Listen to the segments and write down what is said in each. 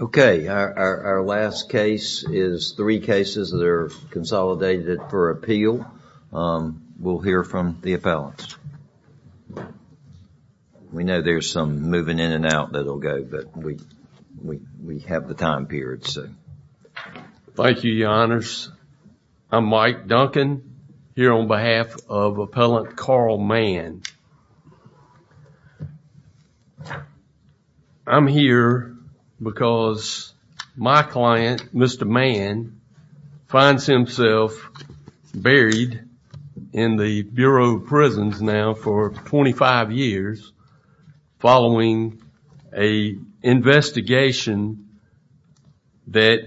Okay, our last case is three cases that are consolidated for appeal. We'll hear from the appellants. We know there's some moving in and out that'll go, but we have the time period, so. Thank you, your honors. I'm Mike Duncan, here on behalf of appellant Carl Mann. I'm here because my client, Mr. Mann, finds himself buried in the Bureau of Prisons now for twenty-five years following an investigation that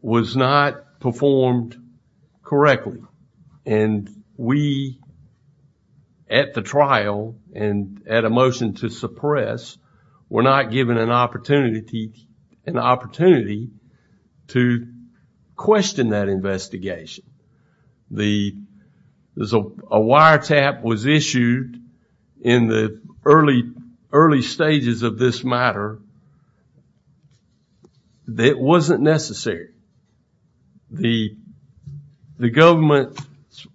was not performed correctly. And we, at the trial and at a motion to suppress, were not given an opportunity to question that investigation. A wiretap was issued in the early stages of this matter that wasn't necessary. The government's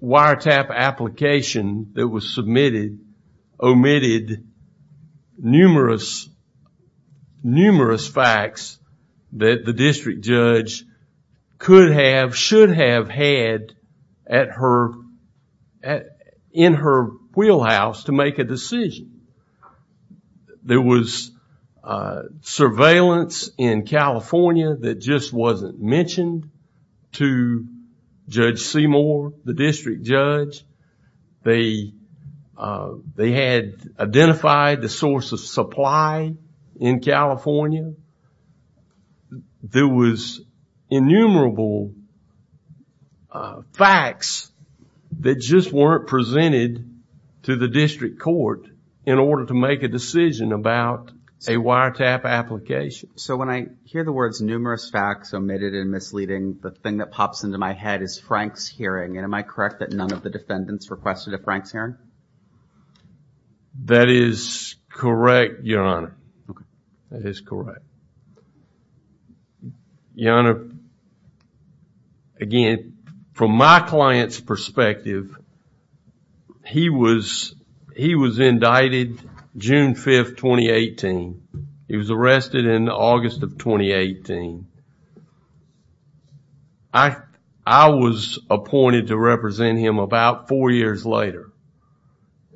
wiretap application that was submitted omitted numerous, numerous facts that the district judge could have, should have had in her wheelhouse to make a decision. There was surveillance in California that just wasn't mentioned to Judge Seymour, the district judge. They had identified the source of supply in California. There was innumerable facts that just weren't presented to the district court in order to make a decision about a wiretap application. So when I hear the words numerous facts omitted and misleading, the thing that pops into my head is Frank's hearing, and am I correct that none of the defendants requested a Frank's wiretap application? That is correct, Your Honor. That is correct. Your Honor, again, from my client's perspective, he was indicted June 5th, 2018. He was arrested in August of 2018. I was appointed to represent him about four years later.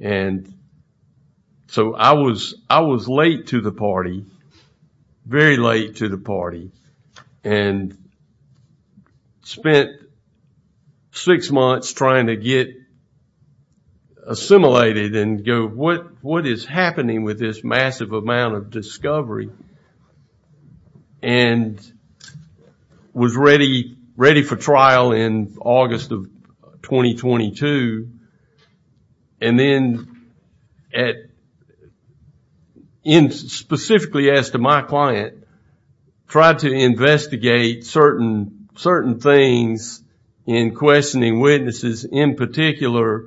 And so I was late to the party, very late to the party, and spent six months trying to get assimilated and go, what is happening with this massive issue? And then at, specifically as to my client, tried to investigate certain things in questioning witnesses, in particular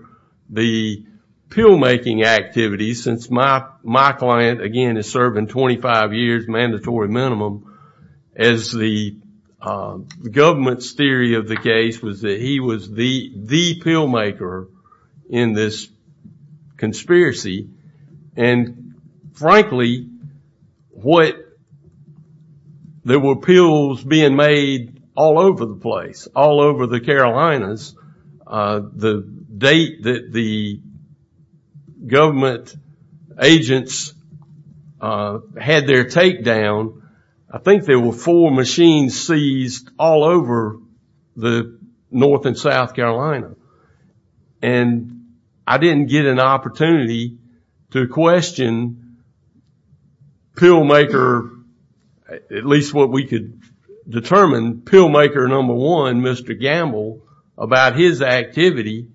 the pill-making activities, since my client, again, is serving 25 years, mandatory minimum, as the government's theory of the case was that he was the pill-maker in this conspiracy. And frankly, what, there were pills being made all over the place, all over the Carolinas. The date that the government agents had their takedown, I think there were four machines seized all over the North and South Carolina. And I didn't get an opportunity to question pill-maker, at least what we could determine, pill-maker number one, Mr. Gamble, about his activity.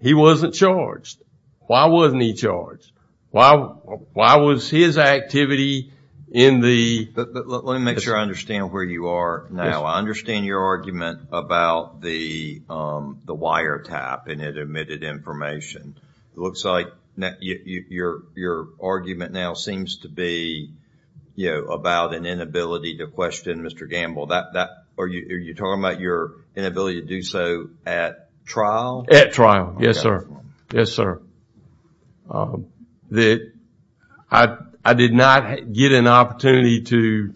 He wasn't charged. Why wasn't he charged? Why was his activity in the... But let me make sure I understand where you are now. I understand your argument about the wiretap and it emitted information. It looks like your argument now seems to be about an inability to question Mr. Gamble. Are you talking about your inability to do so at trial? At trial. Yes, sir. Yes, sir. I did not get an opportunity to...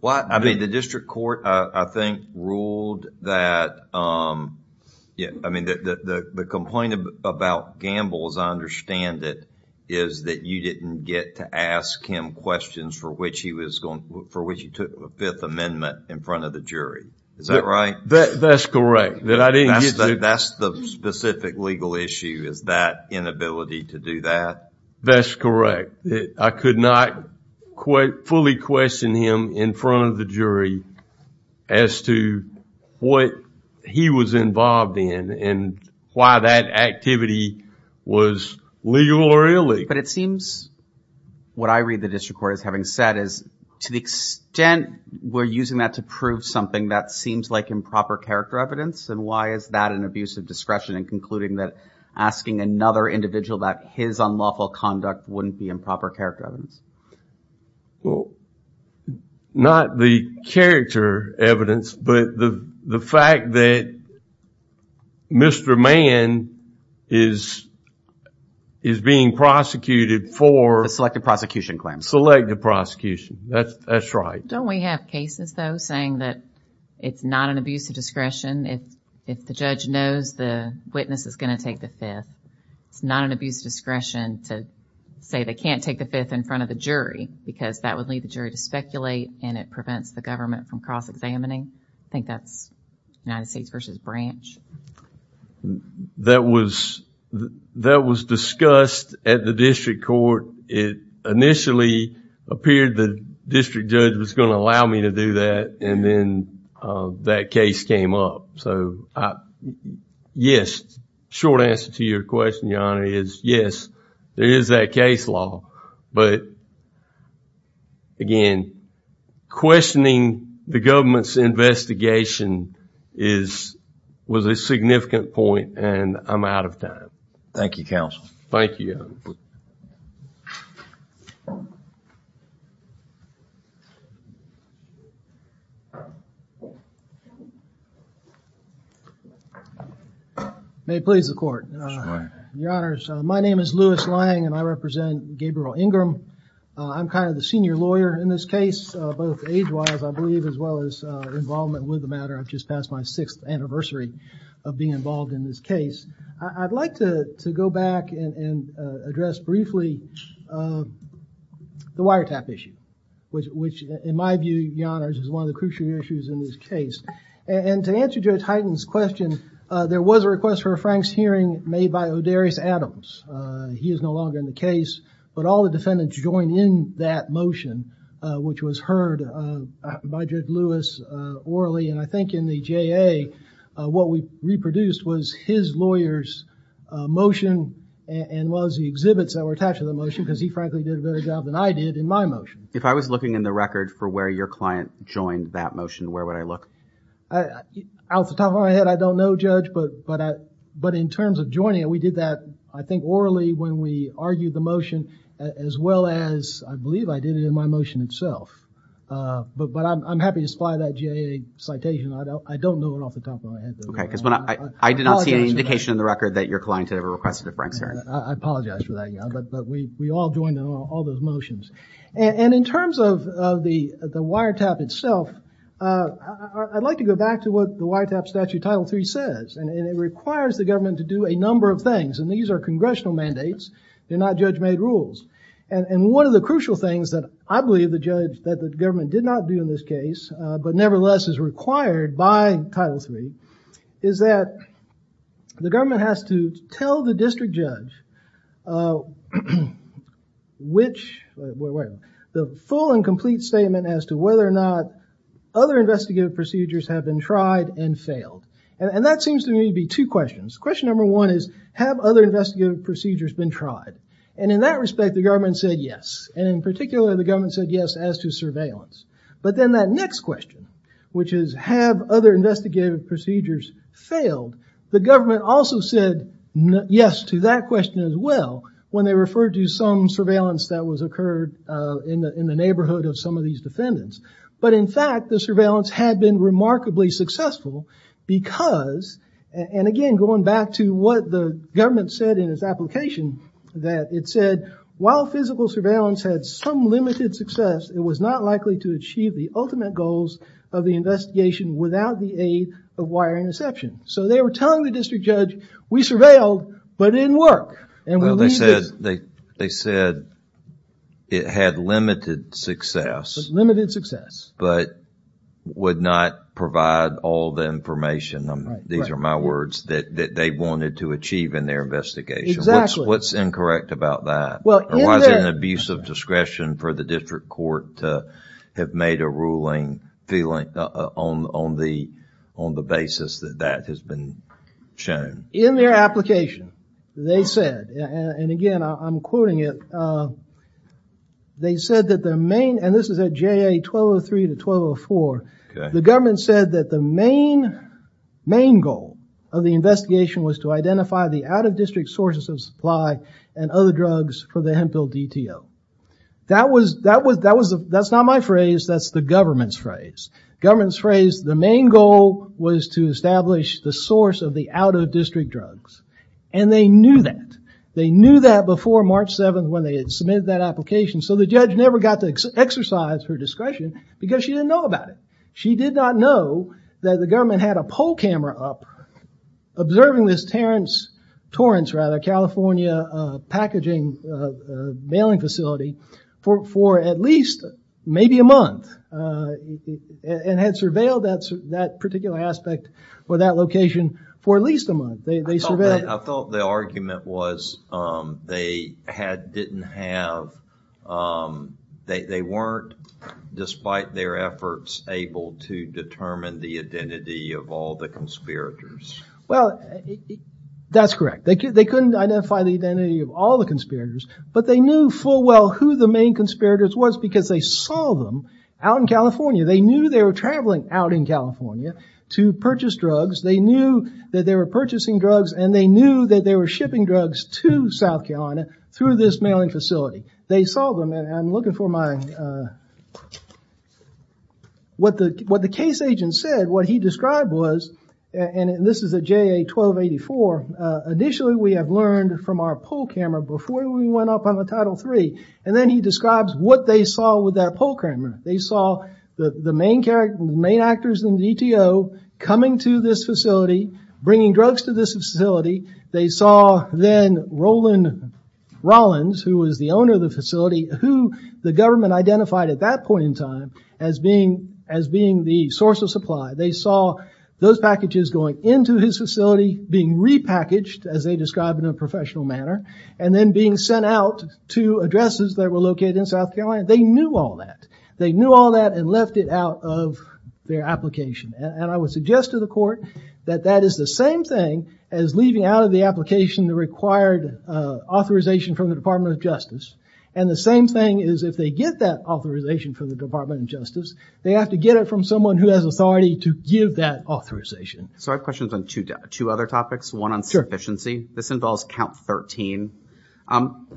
Well, I mean, the district court, I think, ruled that... I mean, the complaint about Gamble, as I understand it, is that you didn't get to ask him questions for which he took a Fifth Amendment in front of the jury. Is that right? That's correct. That I didn't get to... That's the specific legal issue, is that inability to do that. That's correct. I could not fully question him in front of the jury as to what he was involved in and why that activity was legal or illegal. But it seems, what I read the district court as having said, is to the extent we're using that to prove something that seems like improper character evidence, and why is that an abuse of discretion in concluding that asking another individual about his unlawful conduct wouldn't be improper character evidence? Well, not the character evidence, but the fact that Mr. Mann is being prosecuted for... The selective prosecution claim. Selective prosecution, that's right. Don't we have cases, though, saying that it's not an abuse of discretion if the judge knows the witness is going to take the Fifth? It's not an abuse of discretion to say they can't take the Fifth in front of the jury because that would lead the jury to speculate and it prevents the government from cross-examining? I think that's United States v. Branch. That was discussed at the district court. It initially appeared the district judge was going to allow me to do that, and then that case came up. So, yes, short answer to your question, Your Honor, is yes, there is that case law. But, again, questioning the government's investigation was a significant point, and I'm out of time. Thank you, Counsel. Thank you. May it please the Court. Yes, Your Honor. Your Honors, my name is Louis Lang, and I represent Gabriel Ingram. I'm kind of the senior lawyer in this case, both age-wise, I believe, as well as involvement with the matter. I've just passed my sixth anniversary of being involved in this case. I'd like to go back and address briefly the wiretap issue, which in my view, Your Honors, is one of the crucial issues in this case. And to answer Judge Hyten's question, there was a request for a Frank's hearing made by O'Darrius Adams. He is no longer in the case, but all the defendants joined in that motion, which was heard by Judge Lewis orally, and I think in the JA, what we reproduced was his lawyer's motion and was the exhibits that were attached to the motion, because he frankly did a better job than I did in my motion. If I was looking in the record for where your client joined that motion, where would I look? Off the top of my head, I don't know, Judge, but in terms of joining it, we did that, I think, orally when we argued the motion, as well as, I believe, I did it in my motion itself. But I'm happy to supply that JA citation. I don't know it off the top of my head. Okay, because I did not see any indication in the record that your client had ever requested a Frank's hearing. I apologize for that, but we all joined in all those motions. And in terms of the wiretap itself, I'd like to go back to what the wiretap statute title three says, and it requires the government to do a number of things, and these are congressional mandates. They're that the government did not do in this case, but nevertheless is required by title three, is that the government has to tell the district judge the full and complete statement as to whether or not other investigative procedures have been tried and failed. And that seems to me to be two questions. Question number one is, have other investigative procedures been tried? And in that respect, the government said yes. And in particular, the government said yes as to surveillance. But then that next question, which is, have other investigative procedures failed? The government also said yes to that question as well, when they referred to some surveillance that was occurred in the neighborhood of some of these defendants. But in fact, the surveillance had been remarkably successful because, and again, going back to what the government said in its application, that it said, while physical surveillance had some limited success, it was not likely to achieve the ultimate goals of the investigation without the aid of wire interception. So they were telling the district judge, we surveilled, but it didn't work. Well, they said it had limited success, but would not provide all the information, these are my words, that they wanted to achieve in their investigation. What's incorrect about that? Or was it an abuse of discretion for the district court to have made a ruling on the basis that that has been shown? In their application, they said, and again, I'm quoting it, they said that the main, and this is at JA 1203 to 1204, the government said that the main goal of the investigation was to identify the out-of-district sources of supply and other drugs for the Hemphill DTO. That's not my phrase, that's the government's phrase. Government's phrase, the main goal was to establish the source of the out-of-district drugs. And they knew that. They knew that before March 7th when they had submitted that application, so the judge never got to exercise her discretion because she didn't know about it. She did not know that the government had a poll camera up observing this Torrance, rather, California packaging mailing facility for at least maybe a month and had surveilled that particular aspect for that location for at least a month. I thought the argument was they didn't have, um, they weren't, despite their efforts, able to determine the identity of all the conspirators. Well, that's correct. They couldn't identify the identity of all the conspirators, but they knew full well who the main conspirators was because they saw them out in California. They knew they were traveling out in California to purchase drugs. They knew that they were purchasing drugs and they knew that they were shipping drugs to South Carolina through this mailing facility. They saw them, and I'm looking for my, what the case agent said, what he described was, and this is a JA-1284, initially we have learned from our poll camera before we went up on the Title III, and then he describes what they saw with that poll camera. They saw the main actors in the DTO coming to this facility, bringing drugs to this facility. They saw then Roland Rollins, who was the owner of the facility, who the government identified at that point in time as being the source of supply. They saw those packages going into his facility being repackaged, as they described in a professional manner, and then being sent out to addresses that were located in South Carolina. They knew all that. They knew all that and left it out of their application, and I would suggest to the court that that is the same thing as leaving out of the application the required authorization from the Department of Justice, and the same thing is if they get that authorization from the Department of Justice, they have to get it from someone who has authority to give that authorization. So I have questions on two other topics. One on sufficiency. This involves count 13.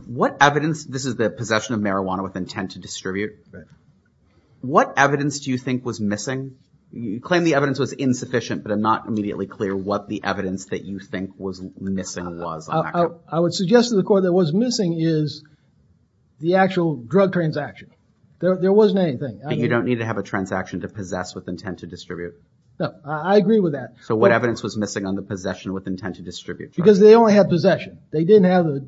What evidence, this is the possession of with intent to distribute. What evidence do you think was missing? You claim the evidence was insufficient, but I'm not immediately clear what the evidence that you think was missing was. I would suggest to the court that what's missing is the actual drug transaction. There wasn't anything. You don't need to have a transaction to possess with intent to distribute? No, I agree with that. So what evidence was missing on the possession with intent to distribute? Because they only had possession. They didn't have the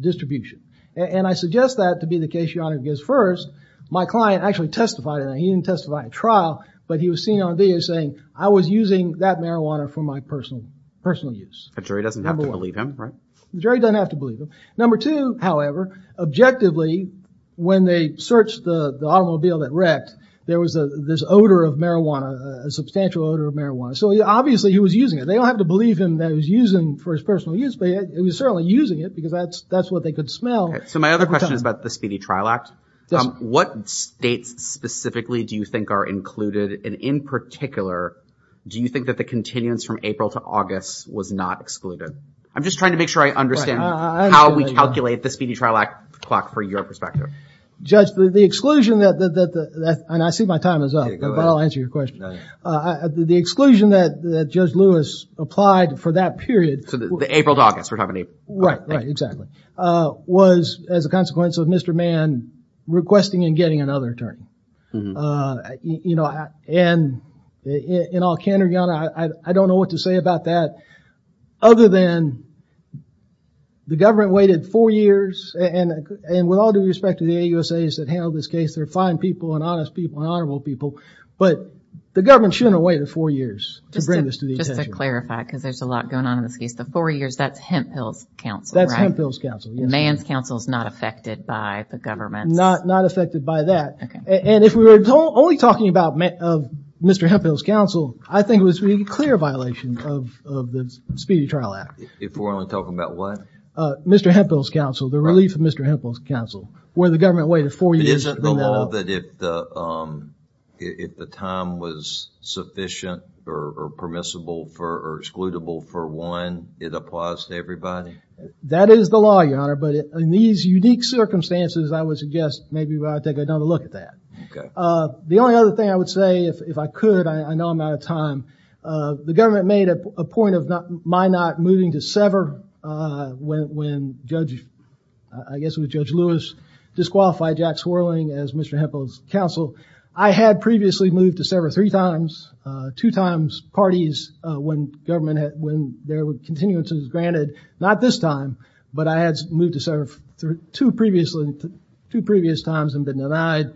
distribution, and I suggest that to be first. My client actually testified, and he didn't testify at trial, but he was seen on video saying I was using that marijuana for my personal use. The jury doesn't have to believe him, right? Jury doesn't have to believe him. Number two, however, objectively, when they searched the automobile that wrecked, there was this odor of marijuana, a substantial odor of marijuana. So obviously he was using it. They don't have to believe him that he was using for his personal use, but he was certainly using it because that's what they could smell. So my other question is the Speedy Trial Act. What states specifically do you think are included, and in particular, do you think that the continuance from April to August was not excluded? I'm just trying to make sure I understand how we calculate the Speedy Trial Act clock for your perspective. Judge, the exclusion that, and I see my time is up, but I'll answer your question. The exclusion that Judge Lewis applied for that period. So the April to August, we're talking about April. Right, exactly. Was as a consequence of Mr. Mann requesting and getting another attorney. You know, and in all candor, I don't know what to say about that other than the government waited four years and with all due respect to the AUSAs that handled this case, they're fine people and honest people and honorable people, but the government shouldn't have waited four years to bring this to the attention. Just to clarify, because there's a lot going on in this case, the four years, that's Hemphill's counsel. That's Hemphill's counsel. Mann's counsel is not affected by the government. Not affected by that. And if we were only talking about Mr. Hemphill's counsel, I think it was a clear violation of the Speedy Trial Act. If we're only talking about what? Mr. Hemphill's counsel, the relief of Mr. Hemphill's counsel, where the government waited four years. Isn't the law that if the time was sufficient or permissible or excludable for one, it applies to everybody? That is the law, your honor, but in these unique circumstances, I would suggest maybe we ought to take another look at that. Okay. The only other thing I would say, if I could, I know I'm out of time, the government made a point of my not moving to sever when Judge, I guess it was Judge Lewis disqualified Jack Swirling as Mr. Hemphill's counsel. I had previously moved to sever three times, two times parties when government had, when there were continuances granted. Not this time, but I had moved to sever two previously, two previous times and been denied.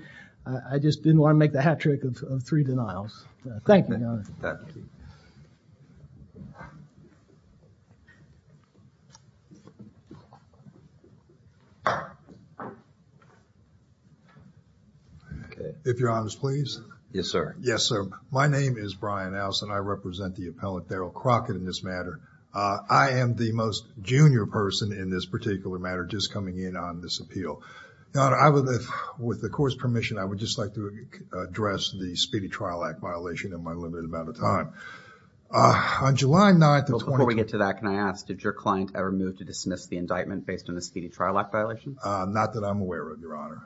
I just didn't want to make the hat trick of three denials. Okay. If you're honest, please. Yes, sir. Yes, sir. My name is Brian Allison. I represent the appellant Darrell Crockett in this matter. I am the most junior person in this particular matter, just coming in on this appeal. Now, I would, with the court's permission, I would just like to address the Speedy Trial Act violation in my limited amount of time. On July 9th, before we get to that, can I ask, did your client ever move to dismiss the indictment based on the Speedy Trial Act violation? Not that I'm aware of, Your Honor.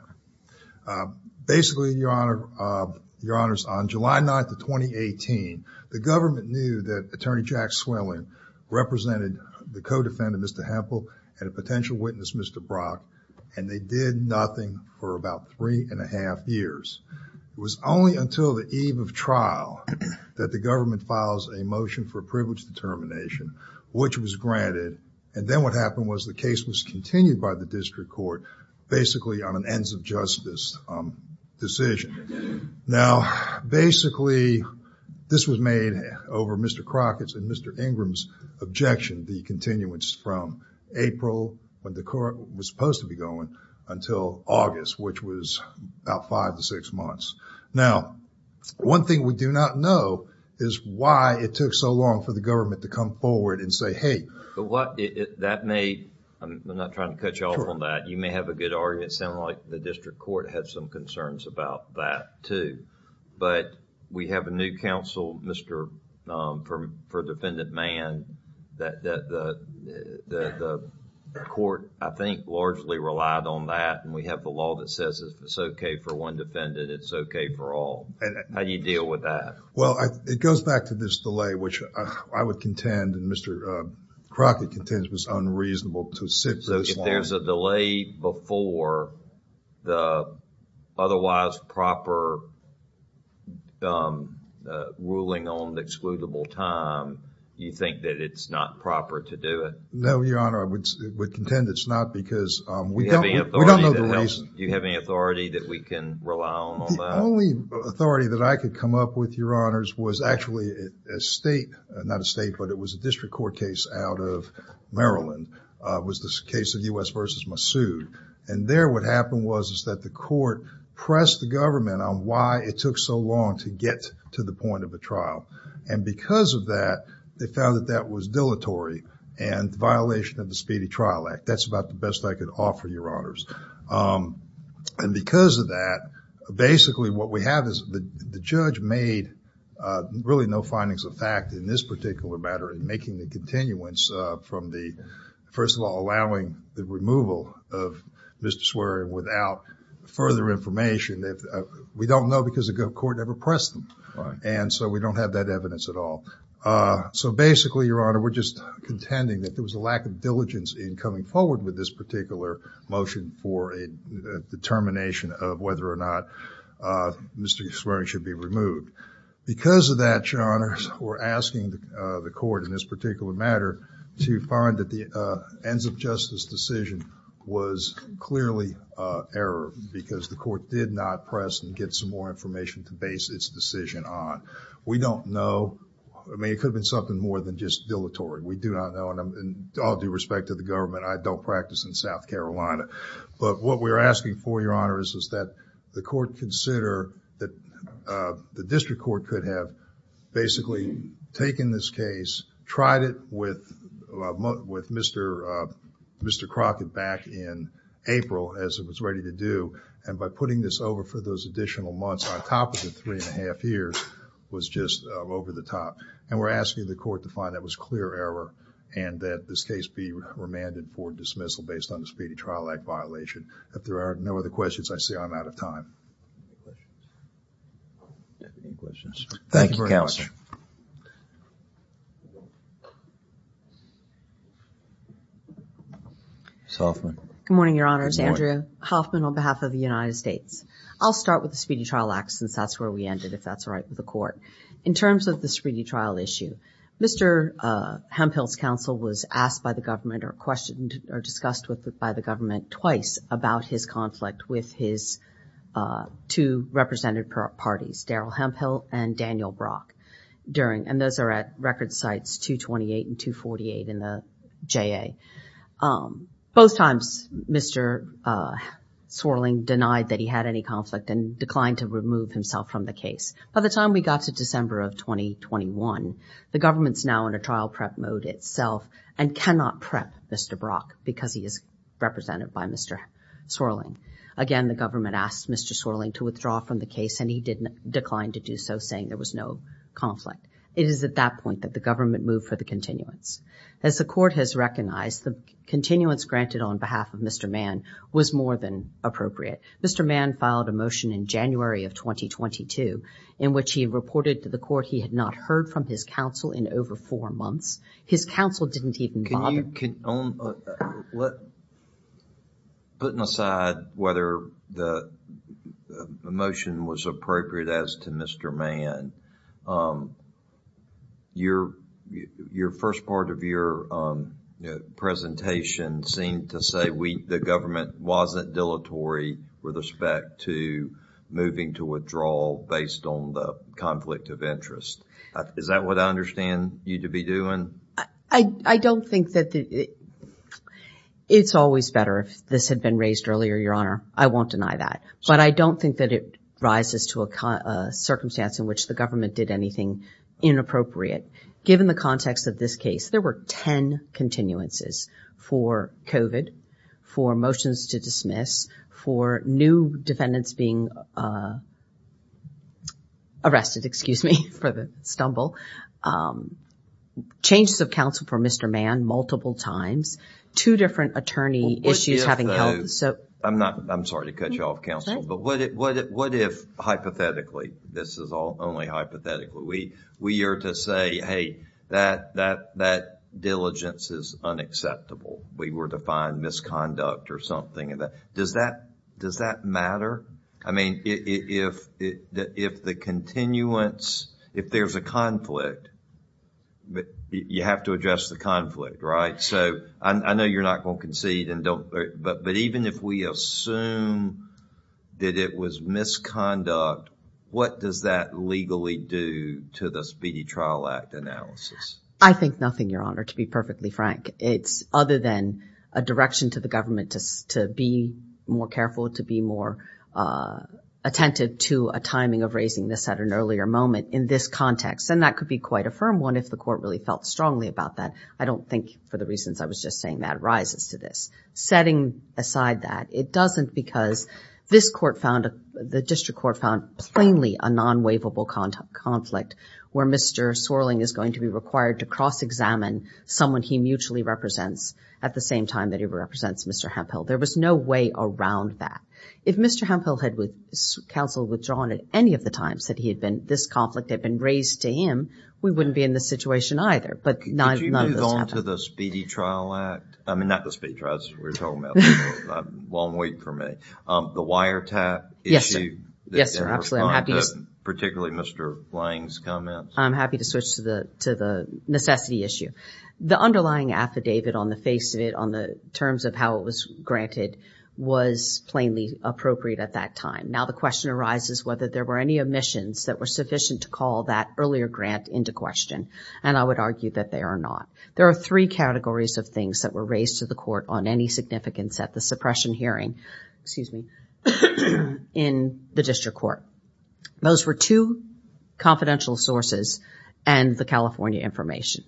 Basically, Your Honor, Your Honors, on July 9th of 2018, the government knew that Attorney Jack Swirling represented the co-defendant, Mr. Hemphill, and a potential witness, Mr. Brock, and they did nothing for about three and a half years. It was only until the eve of trial that the government files a motion for privilege determination, which was granted, and then what happened was the case was continued by the district court, basically on an ends of justice decision. Now, basically, this was made over Mr. Crockett's and Mr. Ingram's objection, the continuance from April, when the court was supposed to be going, until August, which was about five to six months. Now, one thing we do not know is why it took so long for the government to come forward and say, hey... I'm not trying to cut you off on that. You may have a good argument, sound like the district court had some concerns about that too, but we have a new counsel, Mr.... for defendant man that the court, I think, largely relied on that and we have the law that says it's okay for one defendant, it's okay for all. How do you deal with that?... Well, it goes back to this delay, which I would contend and Mr. Crockett contends was unreasonable to sit for this long... on the excludable time, you think that it's not proper to do it? No, Your Honor, I would contend it's not because we don't know the reason... Do you have any authority that we can rely on on that? The only authority that I could come up with, Your Honors, was actually a state, not a state, but it was a district court case out of Maryland. It was the case of U.S. v. Massoud, and there what happened was that the court pressed the government on why it took so long to get to the point of a trial, and because of that, they found that that was dilatory and violation of the Speedy Trial Act. That's about the best I could offer, Your Honors, and because of that, basically what we have is the judge made really no findings of fact in this particular matter in making the continuance from the... first of all, allowing the removal of Mr. Swery without further information. We don't know because the court never pressed them, and so we don't have that evidence at all. So basically, Your Honor, we're just contending that there was a lack of diligence in coming forward with this particular motion for a determination of whether or not Mr. Swery should be removed. Because of that, Your Honors, we're asking the court in this particular matter to find that the ends of justice decision was clearly error because the court did not press and get some more information to base its decision on. We don't know. I mean, it could have been something more than just dilatory. We do not know, and all due respect to the government, I don't practice in South Carolina, but what we're asking for, Your Honors, is that the court consider that the district court could have basically taken this case, tried it with Mr. Crockett back in April as it was ready to do, and by putting this over for those additional months on top of the three and a half years, was just over the top. And we're asking the court to find that it was clear error and that this case be remanded for dismissal based on the Speedy Trial Act violation. If there are no other questions, I say I'm out of time. Thank you, Counselor. Ms. Hoffman. Good morning, Your Honors. Andrea Hoffman on behalf of the United States. I'll start with the Speedy Trial Act since that's where we ended, if that's all right with the court. In terms of the Speedy Trial issue, Mr. Hemphill's counsel was asked by the government or questioned or discussed with the government twice about his conflict with his two representative parties, Daryl Hemphill and Daniel Brock. And those are at record sites 228 and 248 in the JA. Both times, Mr. Swirling denied that he had any conflict and declined to remove himself from the case. By the time we got to December of 2021, the government's now in a trial prep mode itself and cannot prep Mr. Brock because he is represented by Mr. Swirling. Again, the government asked Mr. Swirling to withdraw from the case and he declined to do so, saying there was no conflict. It is at that point that the government moved for the continuance. As the court has recognized, the continuance granted on behalf of Mr. Mann was more than appropriate. Mr. Mann filed a motion in January of 2022 in which he reported to the court he had not heard from his counsel in over four months. His counsel didn't even bother. Can you, can, let, putting aside whether the motion was appropriate as to Mr. Mann, your, your first part of your presentation seemed to say we, the government wasn't dilatory with respect to moving to withdrawal based on the conflict of interest. Is that what I understand you to be doing? I, I don't think that the, it's always better if this had been raised earlier, Your Honor. I won't deny that, but I don't think that it rises to a circumstance in which the government did anything inappropriate. Given the context of this case, there were 10 continuances for COVID, for motions to dismiss, for new defendants being arrested, excuse me, for the stumble, changes of counsel for Mr. Mann multiple times, two different attorney issues having held, so... I'm not, I'm sorry to cut you off, counsel, but what if, what if, what if, hypothetically, this is all only hypothetically, we, we are to say, hey, that, that, that diligence is unacceptable. We were to find misconduct or something and that, does that, does that matter? I mean, if, if, if the continuance, if there's a conflict, you have to address the conflict, right? So, I, I know you're not going to concede and don't, but, but even if we assume that it was misconduct, what does that legally do to the Speedy Trial Act analysis? I think nothing, Your Honor, to be perfectly frank. It's other than a direction to the government to, to be more careful, to be more attentive to a timing of raising this at an earlier moment in this context. And that could be quite a firm one if the court really felt strongly about that. I don't think, for the reasons I was just saying, that rises to this. Setting aside that, it doesn't because this court found, the district court found plainly a required to cross-examine someone he mutually represents at the same time that he represents Mr. Hemphill. There was no way around that. If Mr. Hemphill had with, counseled, withdrawn at any of the times that he had been, this conflict had been raised to him, we wouldn't be in this situation either. But none, none of this happened. Could you move on to the Speedy Trial Act? I mean, not the Speedy Trial Act, we were talking about before. Long wait for me. The wiretap issue. Yes, sir. Yes, sir. Absolutely. I'm happy to. Particularly Mr. Lang's comments. I'm happy to switch to the necessity issue. The underlying affidavit on the face of it, on the terms of how it was granted, was plainly appropriate at that time. Now the question arises whether there were any omissions that were sufficient to call that earlier grant into question. And I would argue that there are not. There are three categories of things that were raised to the court on any significance at the suppression hearing, excuse me, in the district court. Those were two confidential sources and the California information.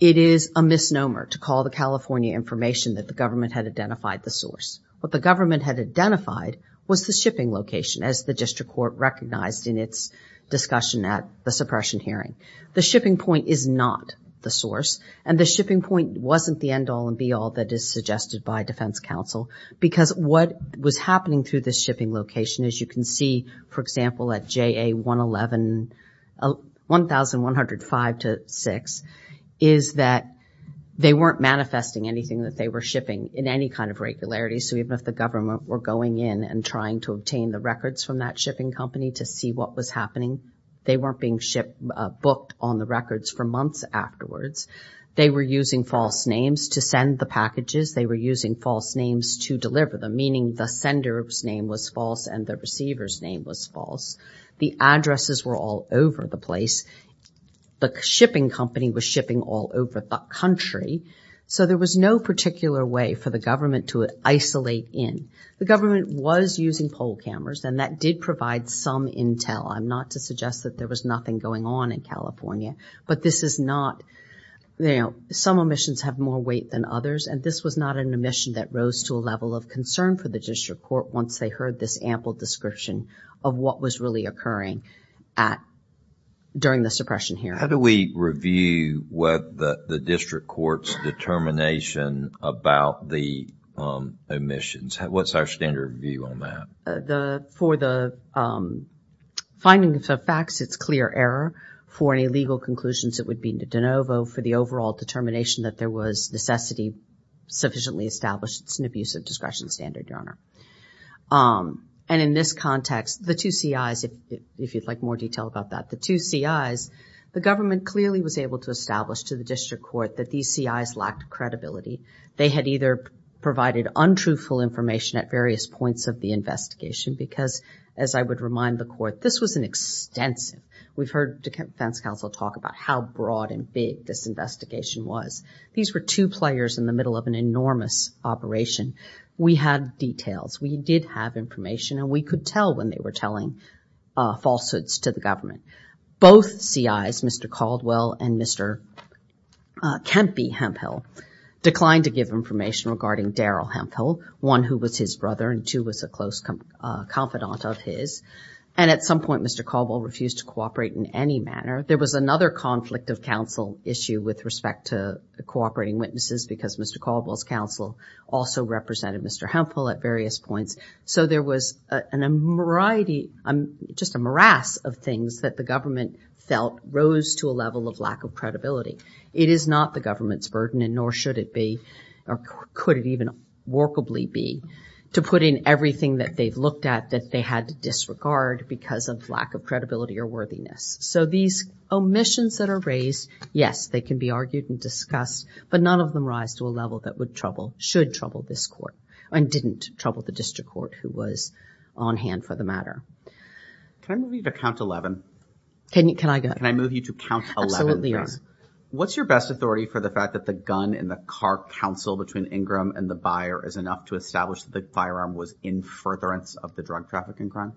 It is a misnomer to call the California information that the government had identified the source. What the government had identified was the shipping location, as the district court recognized in its discussion at the suppression hearing. The shipping point is not the source, and the shipping point wasn't the end all and be all that is suggested by defense counsel, because what was happening through this shipping location, as you can see, for example, at JA111, 1105-6, is that they weren't manifesting anything that they were shipping in any kind of regularity. So even if the government were going in and trying to obtain the records from that shipping company to see what was happening, they weren't being shipped, booked on the records for months afterwards. They were using false names to send the packages. They were using false names to deliver them, meaning the sender's name was false and the receiver's name was false. The addresses were all over the place. The shipping company was shipping all over the country. So there was no particular way for the government to isolate in. The government was using poll cameras, and that did provide some intel. I'm not to suggest that there was nothing going on in California, but this is not, you know, some omissions have more weight than others, and this was not an omission that rose to a level of concern for the district court once they heard this ample description of what was really occurring during the suppression hearing. How do we review the district court's determination about the omissions? What's our standard view on that? For the findings of facts, it's clear error. For any legal conclusions, it would be de novo. For the overall determination that there was necessity, sufficiently established, it's an abuse of discretion standard, Your Honor. And in this context, the two CIs, if you'd like more detail about that, the two CIs, the government clearly was able to establish to the district court that these CIs lacked credibility. They had either provided untruthful information at various points of the investigation, because as I would remind the court, this was an extensive, we've heard defense counsel talk about how broad and big this investigation was. These were two players in the middle of an enormous operation. We had details, we did have information, and we could tell when they were telling falsehoods to the government. Both CIs, Mr. Caldwell and Mr. Kempe Hemphill, declined to give information regarding Daryl Hemphill, one who was his brother and two was a close confidant of his. And at some point, Mr. Caldwell refused to cooperate in any manner. There was another conflict of counsel issue with respect to cooperating witnesses, because Mr. Caldwell's counsel also represented Mr. Hemphill at various points. So there was a variety, just a morass of things that the government felt rose to a level of lack of credibility. It is not the government's burden and nor should it be, or could it even workably be, to put in everything that they've looked at that they had to disregard because of lack of credibility or worthiness. So these omissions that are raised, yes, they can be argued and discussed, but none of them rise to a level that would trouble, should trouble this court and didn't trouble the district court who was on hand for the matter. Can I move you to count 11? Can you, can I go? Can I move you to count 11, please? What's your best authority for the fact that the gun in the car counsel between Ingram and the buyer is enough to establish that the firearm was in furtherance of the drug trafficking crime?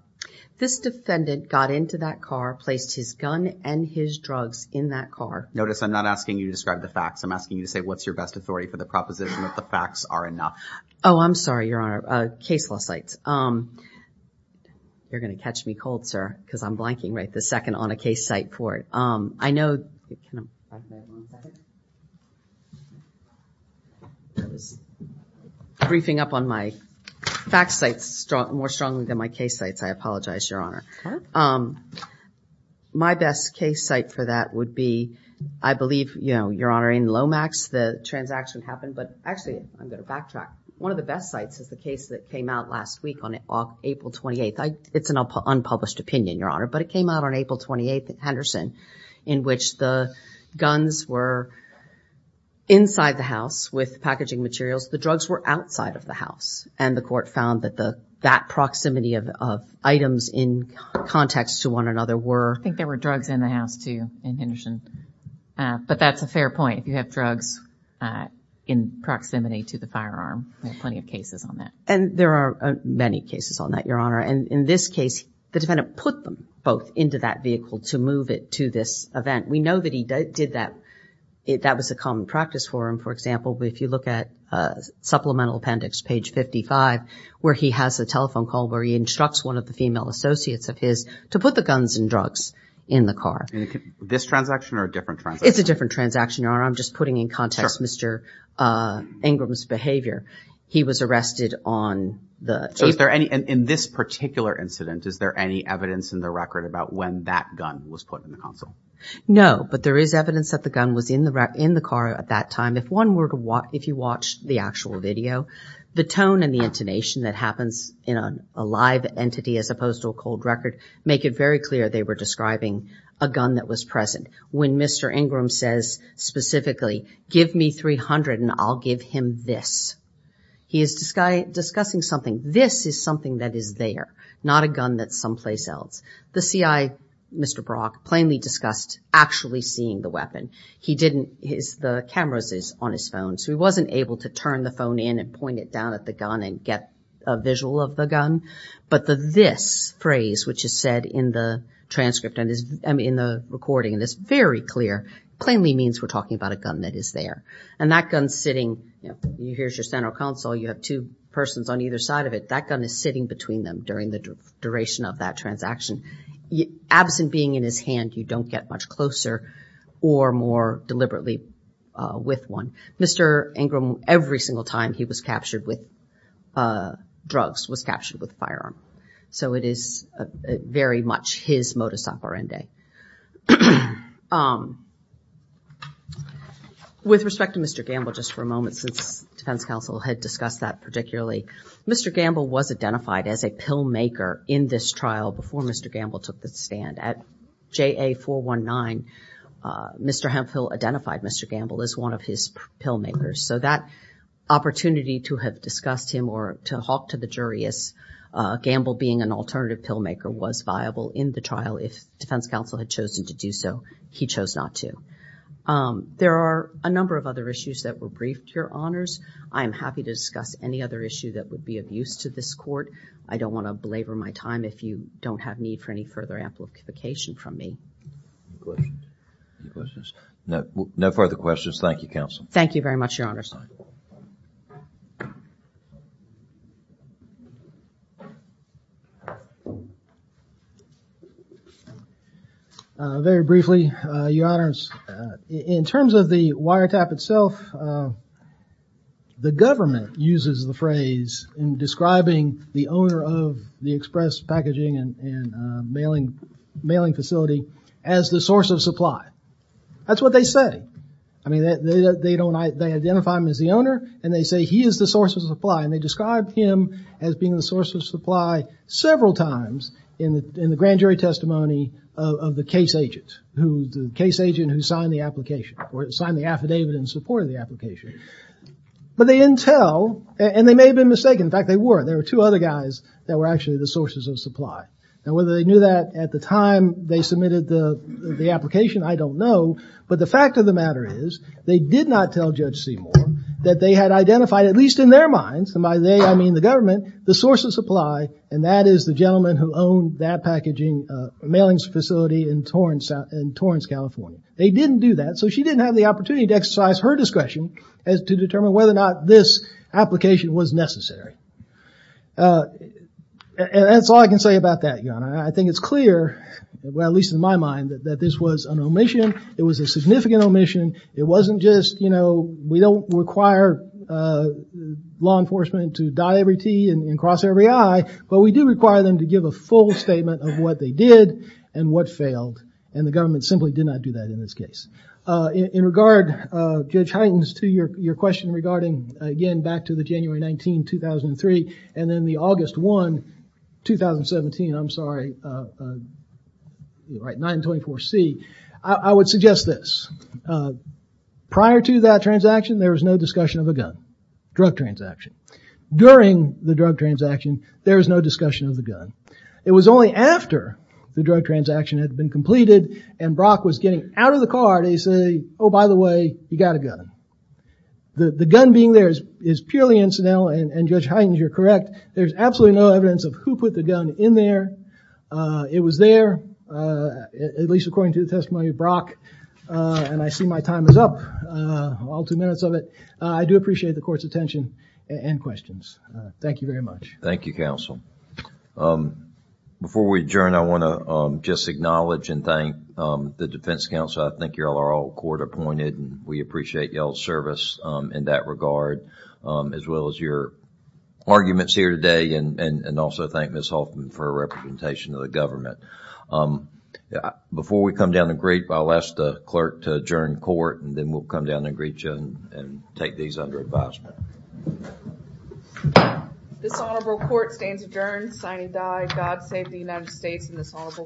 This defendant got into that car, placed his gun and his drugs in that car. Notice I'm not asking you to describe the facts. I'm asking you to say what's your best authority for the proposition that the facts are enough. Oh, I'm sorry, Your Honor. Case law sites. You're going to catch me cold, sir, because I'm blanking right this second on a case site court. I know, I was briefing up on my fact sites more strongly than my case sites. I apologize, Your Honor. My best case site for that would be, I believe, you know, Your Honor, in Lomax, the transaction happened, but actually I'm going to backtrack. One of the best sites is the case that came out last week on April 28th. It's an unpublished opinion, Your Honor, but it came out on April 28th at Henderson in which the guns were inside the house with packaging materials. The drugs were outside of the house and the court found that that proximity of items in context to one another were... I think there were drugs in the house too in Henderson, but that's a fair point. If you have drugs in proximity to the firearm, there are plenty of cases on that. And there are many cases on that, Your Honor. And in this case, the defendant put them both into that vehicle to move it to this event. We know that he did that. That was a common practice for him. For example, if you look at Supplemental Appendix, page 55, where he has a telephone call where he instructs one of the female associates of his to put the guns and drugs in the car. This transaction or a different transaction? It's a different transaction, Your Honor. I'm just putting in context Mr. Ingram's behavior. He was arrested on the... In this particular incident, is there any evidence in the record about when that gun was put in the console? No, but there is evidence that the gun was in the car at that time. If you watch the actual video, the tone and the intonation that happens in a live entity as opposed to a cold record make it very clear they were describing a gun that was present. When Mr. Ingram says specifically, give me 300 and I'll give him this, he is discussing something. This is something that is there, not a gun that's someplace else. The CI, Mr. Brock, plainly discussed actually seeing the weapon. He didn't... The cameras is on his phone, so he wasn't able to turn the phone in and point it down at the gun and get a visual of the gun. But the this phrase, which is said in the transcript and in the recording, and it's very clear, plainly means we're talking about a gun that is there. And that gun's sitting... Here's your center console. You have two persons on either side of it. That gun is sitting between them during the duration of that transaction. Absent being in his hand, you don't get much closer or more deliberately with one. Mr. Ingram, every single time he was captured with drugs, was captured with a firearm. So it is very much his modus operandi. With respect to Mr. Gamble, just for a moment, since defense counsel had discussed that particularly, Mr. Gamble was identified as a pill maker in this trial before Mr. Gamble took the stand. At JA419, Mr. Hemphill identified Mr. Gamble as one of his pill makers. So that opportunity to have discussed him or to talk to the jury as Gamble being an alternative pill maker was viable in the trial if defense counsel had chosen to do so. He chose not to. There are a number of other issues that were briefed, Your Honors. I am happy to discuss any other issue that would be of use to this court. I don't want to belabor my time if you don't have need for any further amplification from me. Any questions? No further questions. Thank you, counsel. Thank you very much, Your Honors. Very briefly, Your Honors, in terms of the wiretap itself, the government uses the phrase in describing the owner of the express packaging and mailing facility as the source of supply. That's what they say. They identify him as the owner, and they say he is the source of supply. They described him as being the source of supply several times in the grand jury testimony of the case agent who signed the affidavit in support of the application. But they didn't tell, and they may have been mistaken. In fact, they were. There were two other guys that were actually the sources of supply. Whether they knew that at the time they submitted the application, I don't know. But the fact of the matter is, they did not tell Judge Seymour that they had identified, at least in their minds, and by they I mean the government, the source of supply, and that is the gentleman who owned that packaging and mailings facility in Torrance, California. They didn't do that, so she didn't have the opportunity to exercise her discretion to determine whether or not this application was necessary. That's all I can say about that, Your Honor. I think it's clear, at least in my mind, that this was an omission. It was a significant omission. We don't require law enforcement to die every T and cross every I, but we do require them to give a full statement of what they did and what failed, and the government simply did not do that in this case. In regard, Judge Huygens, to your question regarding, again, back to the January 19, 2003, and then the August 1, 2017, I'm sorry, 924C, I would suggest this. Prior to that transaction, there was no discussion of a gun, drug transaction. During the drug transaction, there was no discussion of the gun. It was only after the drug transaction had been completed and Brock was getting out of the car, they say, oh, by the way, you got a gun. The gun being there is purely incidental, and Judge Huygens, you're correct. There's absolutely no evidence of who put the gun in there. It was there, at least according to the testimony of Brock, and I see my time is up, all two minutes of it. I do appreciate the court's attention and questions. Thank you very much. Thank you, counsel. Before we adjourn, I want to just acknowledge and thank the defense counsel. I think you all are all court appointed, and we appreciate your service in that regard, as well as your arguments here today, and also thank Ms. Hoffman for her representation to the government. Before we come down to greet, I'll ask the clerk to adjourn court, and then we'll come down and greet you and take these under advisement. This honorable court stands adjourned, sign and die. God save the United States and this honorable court.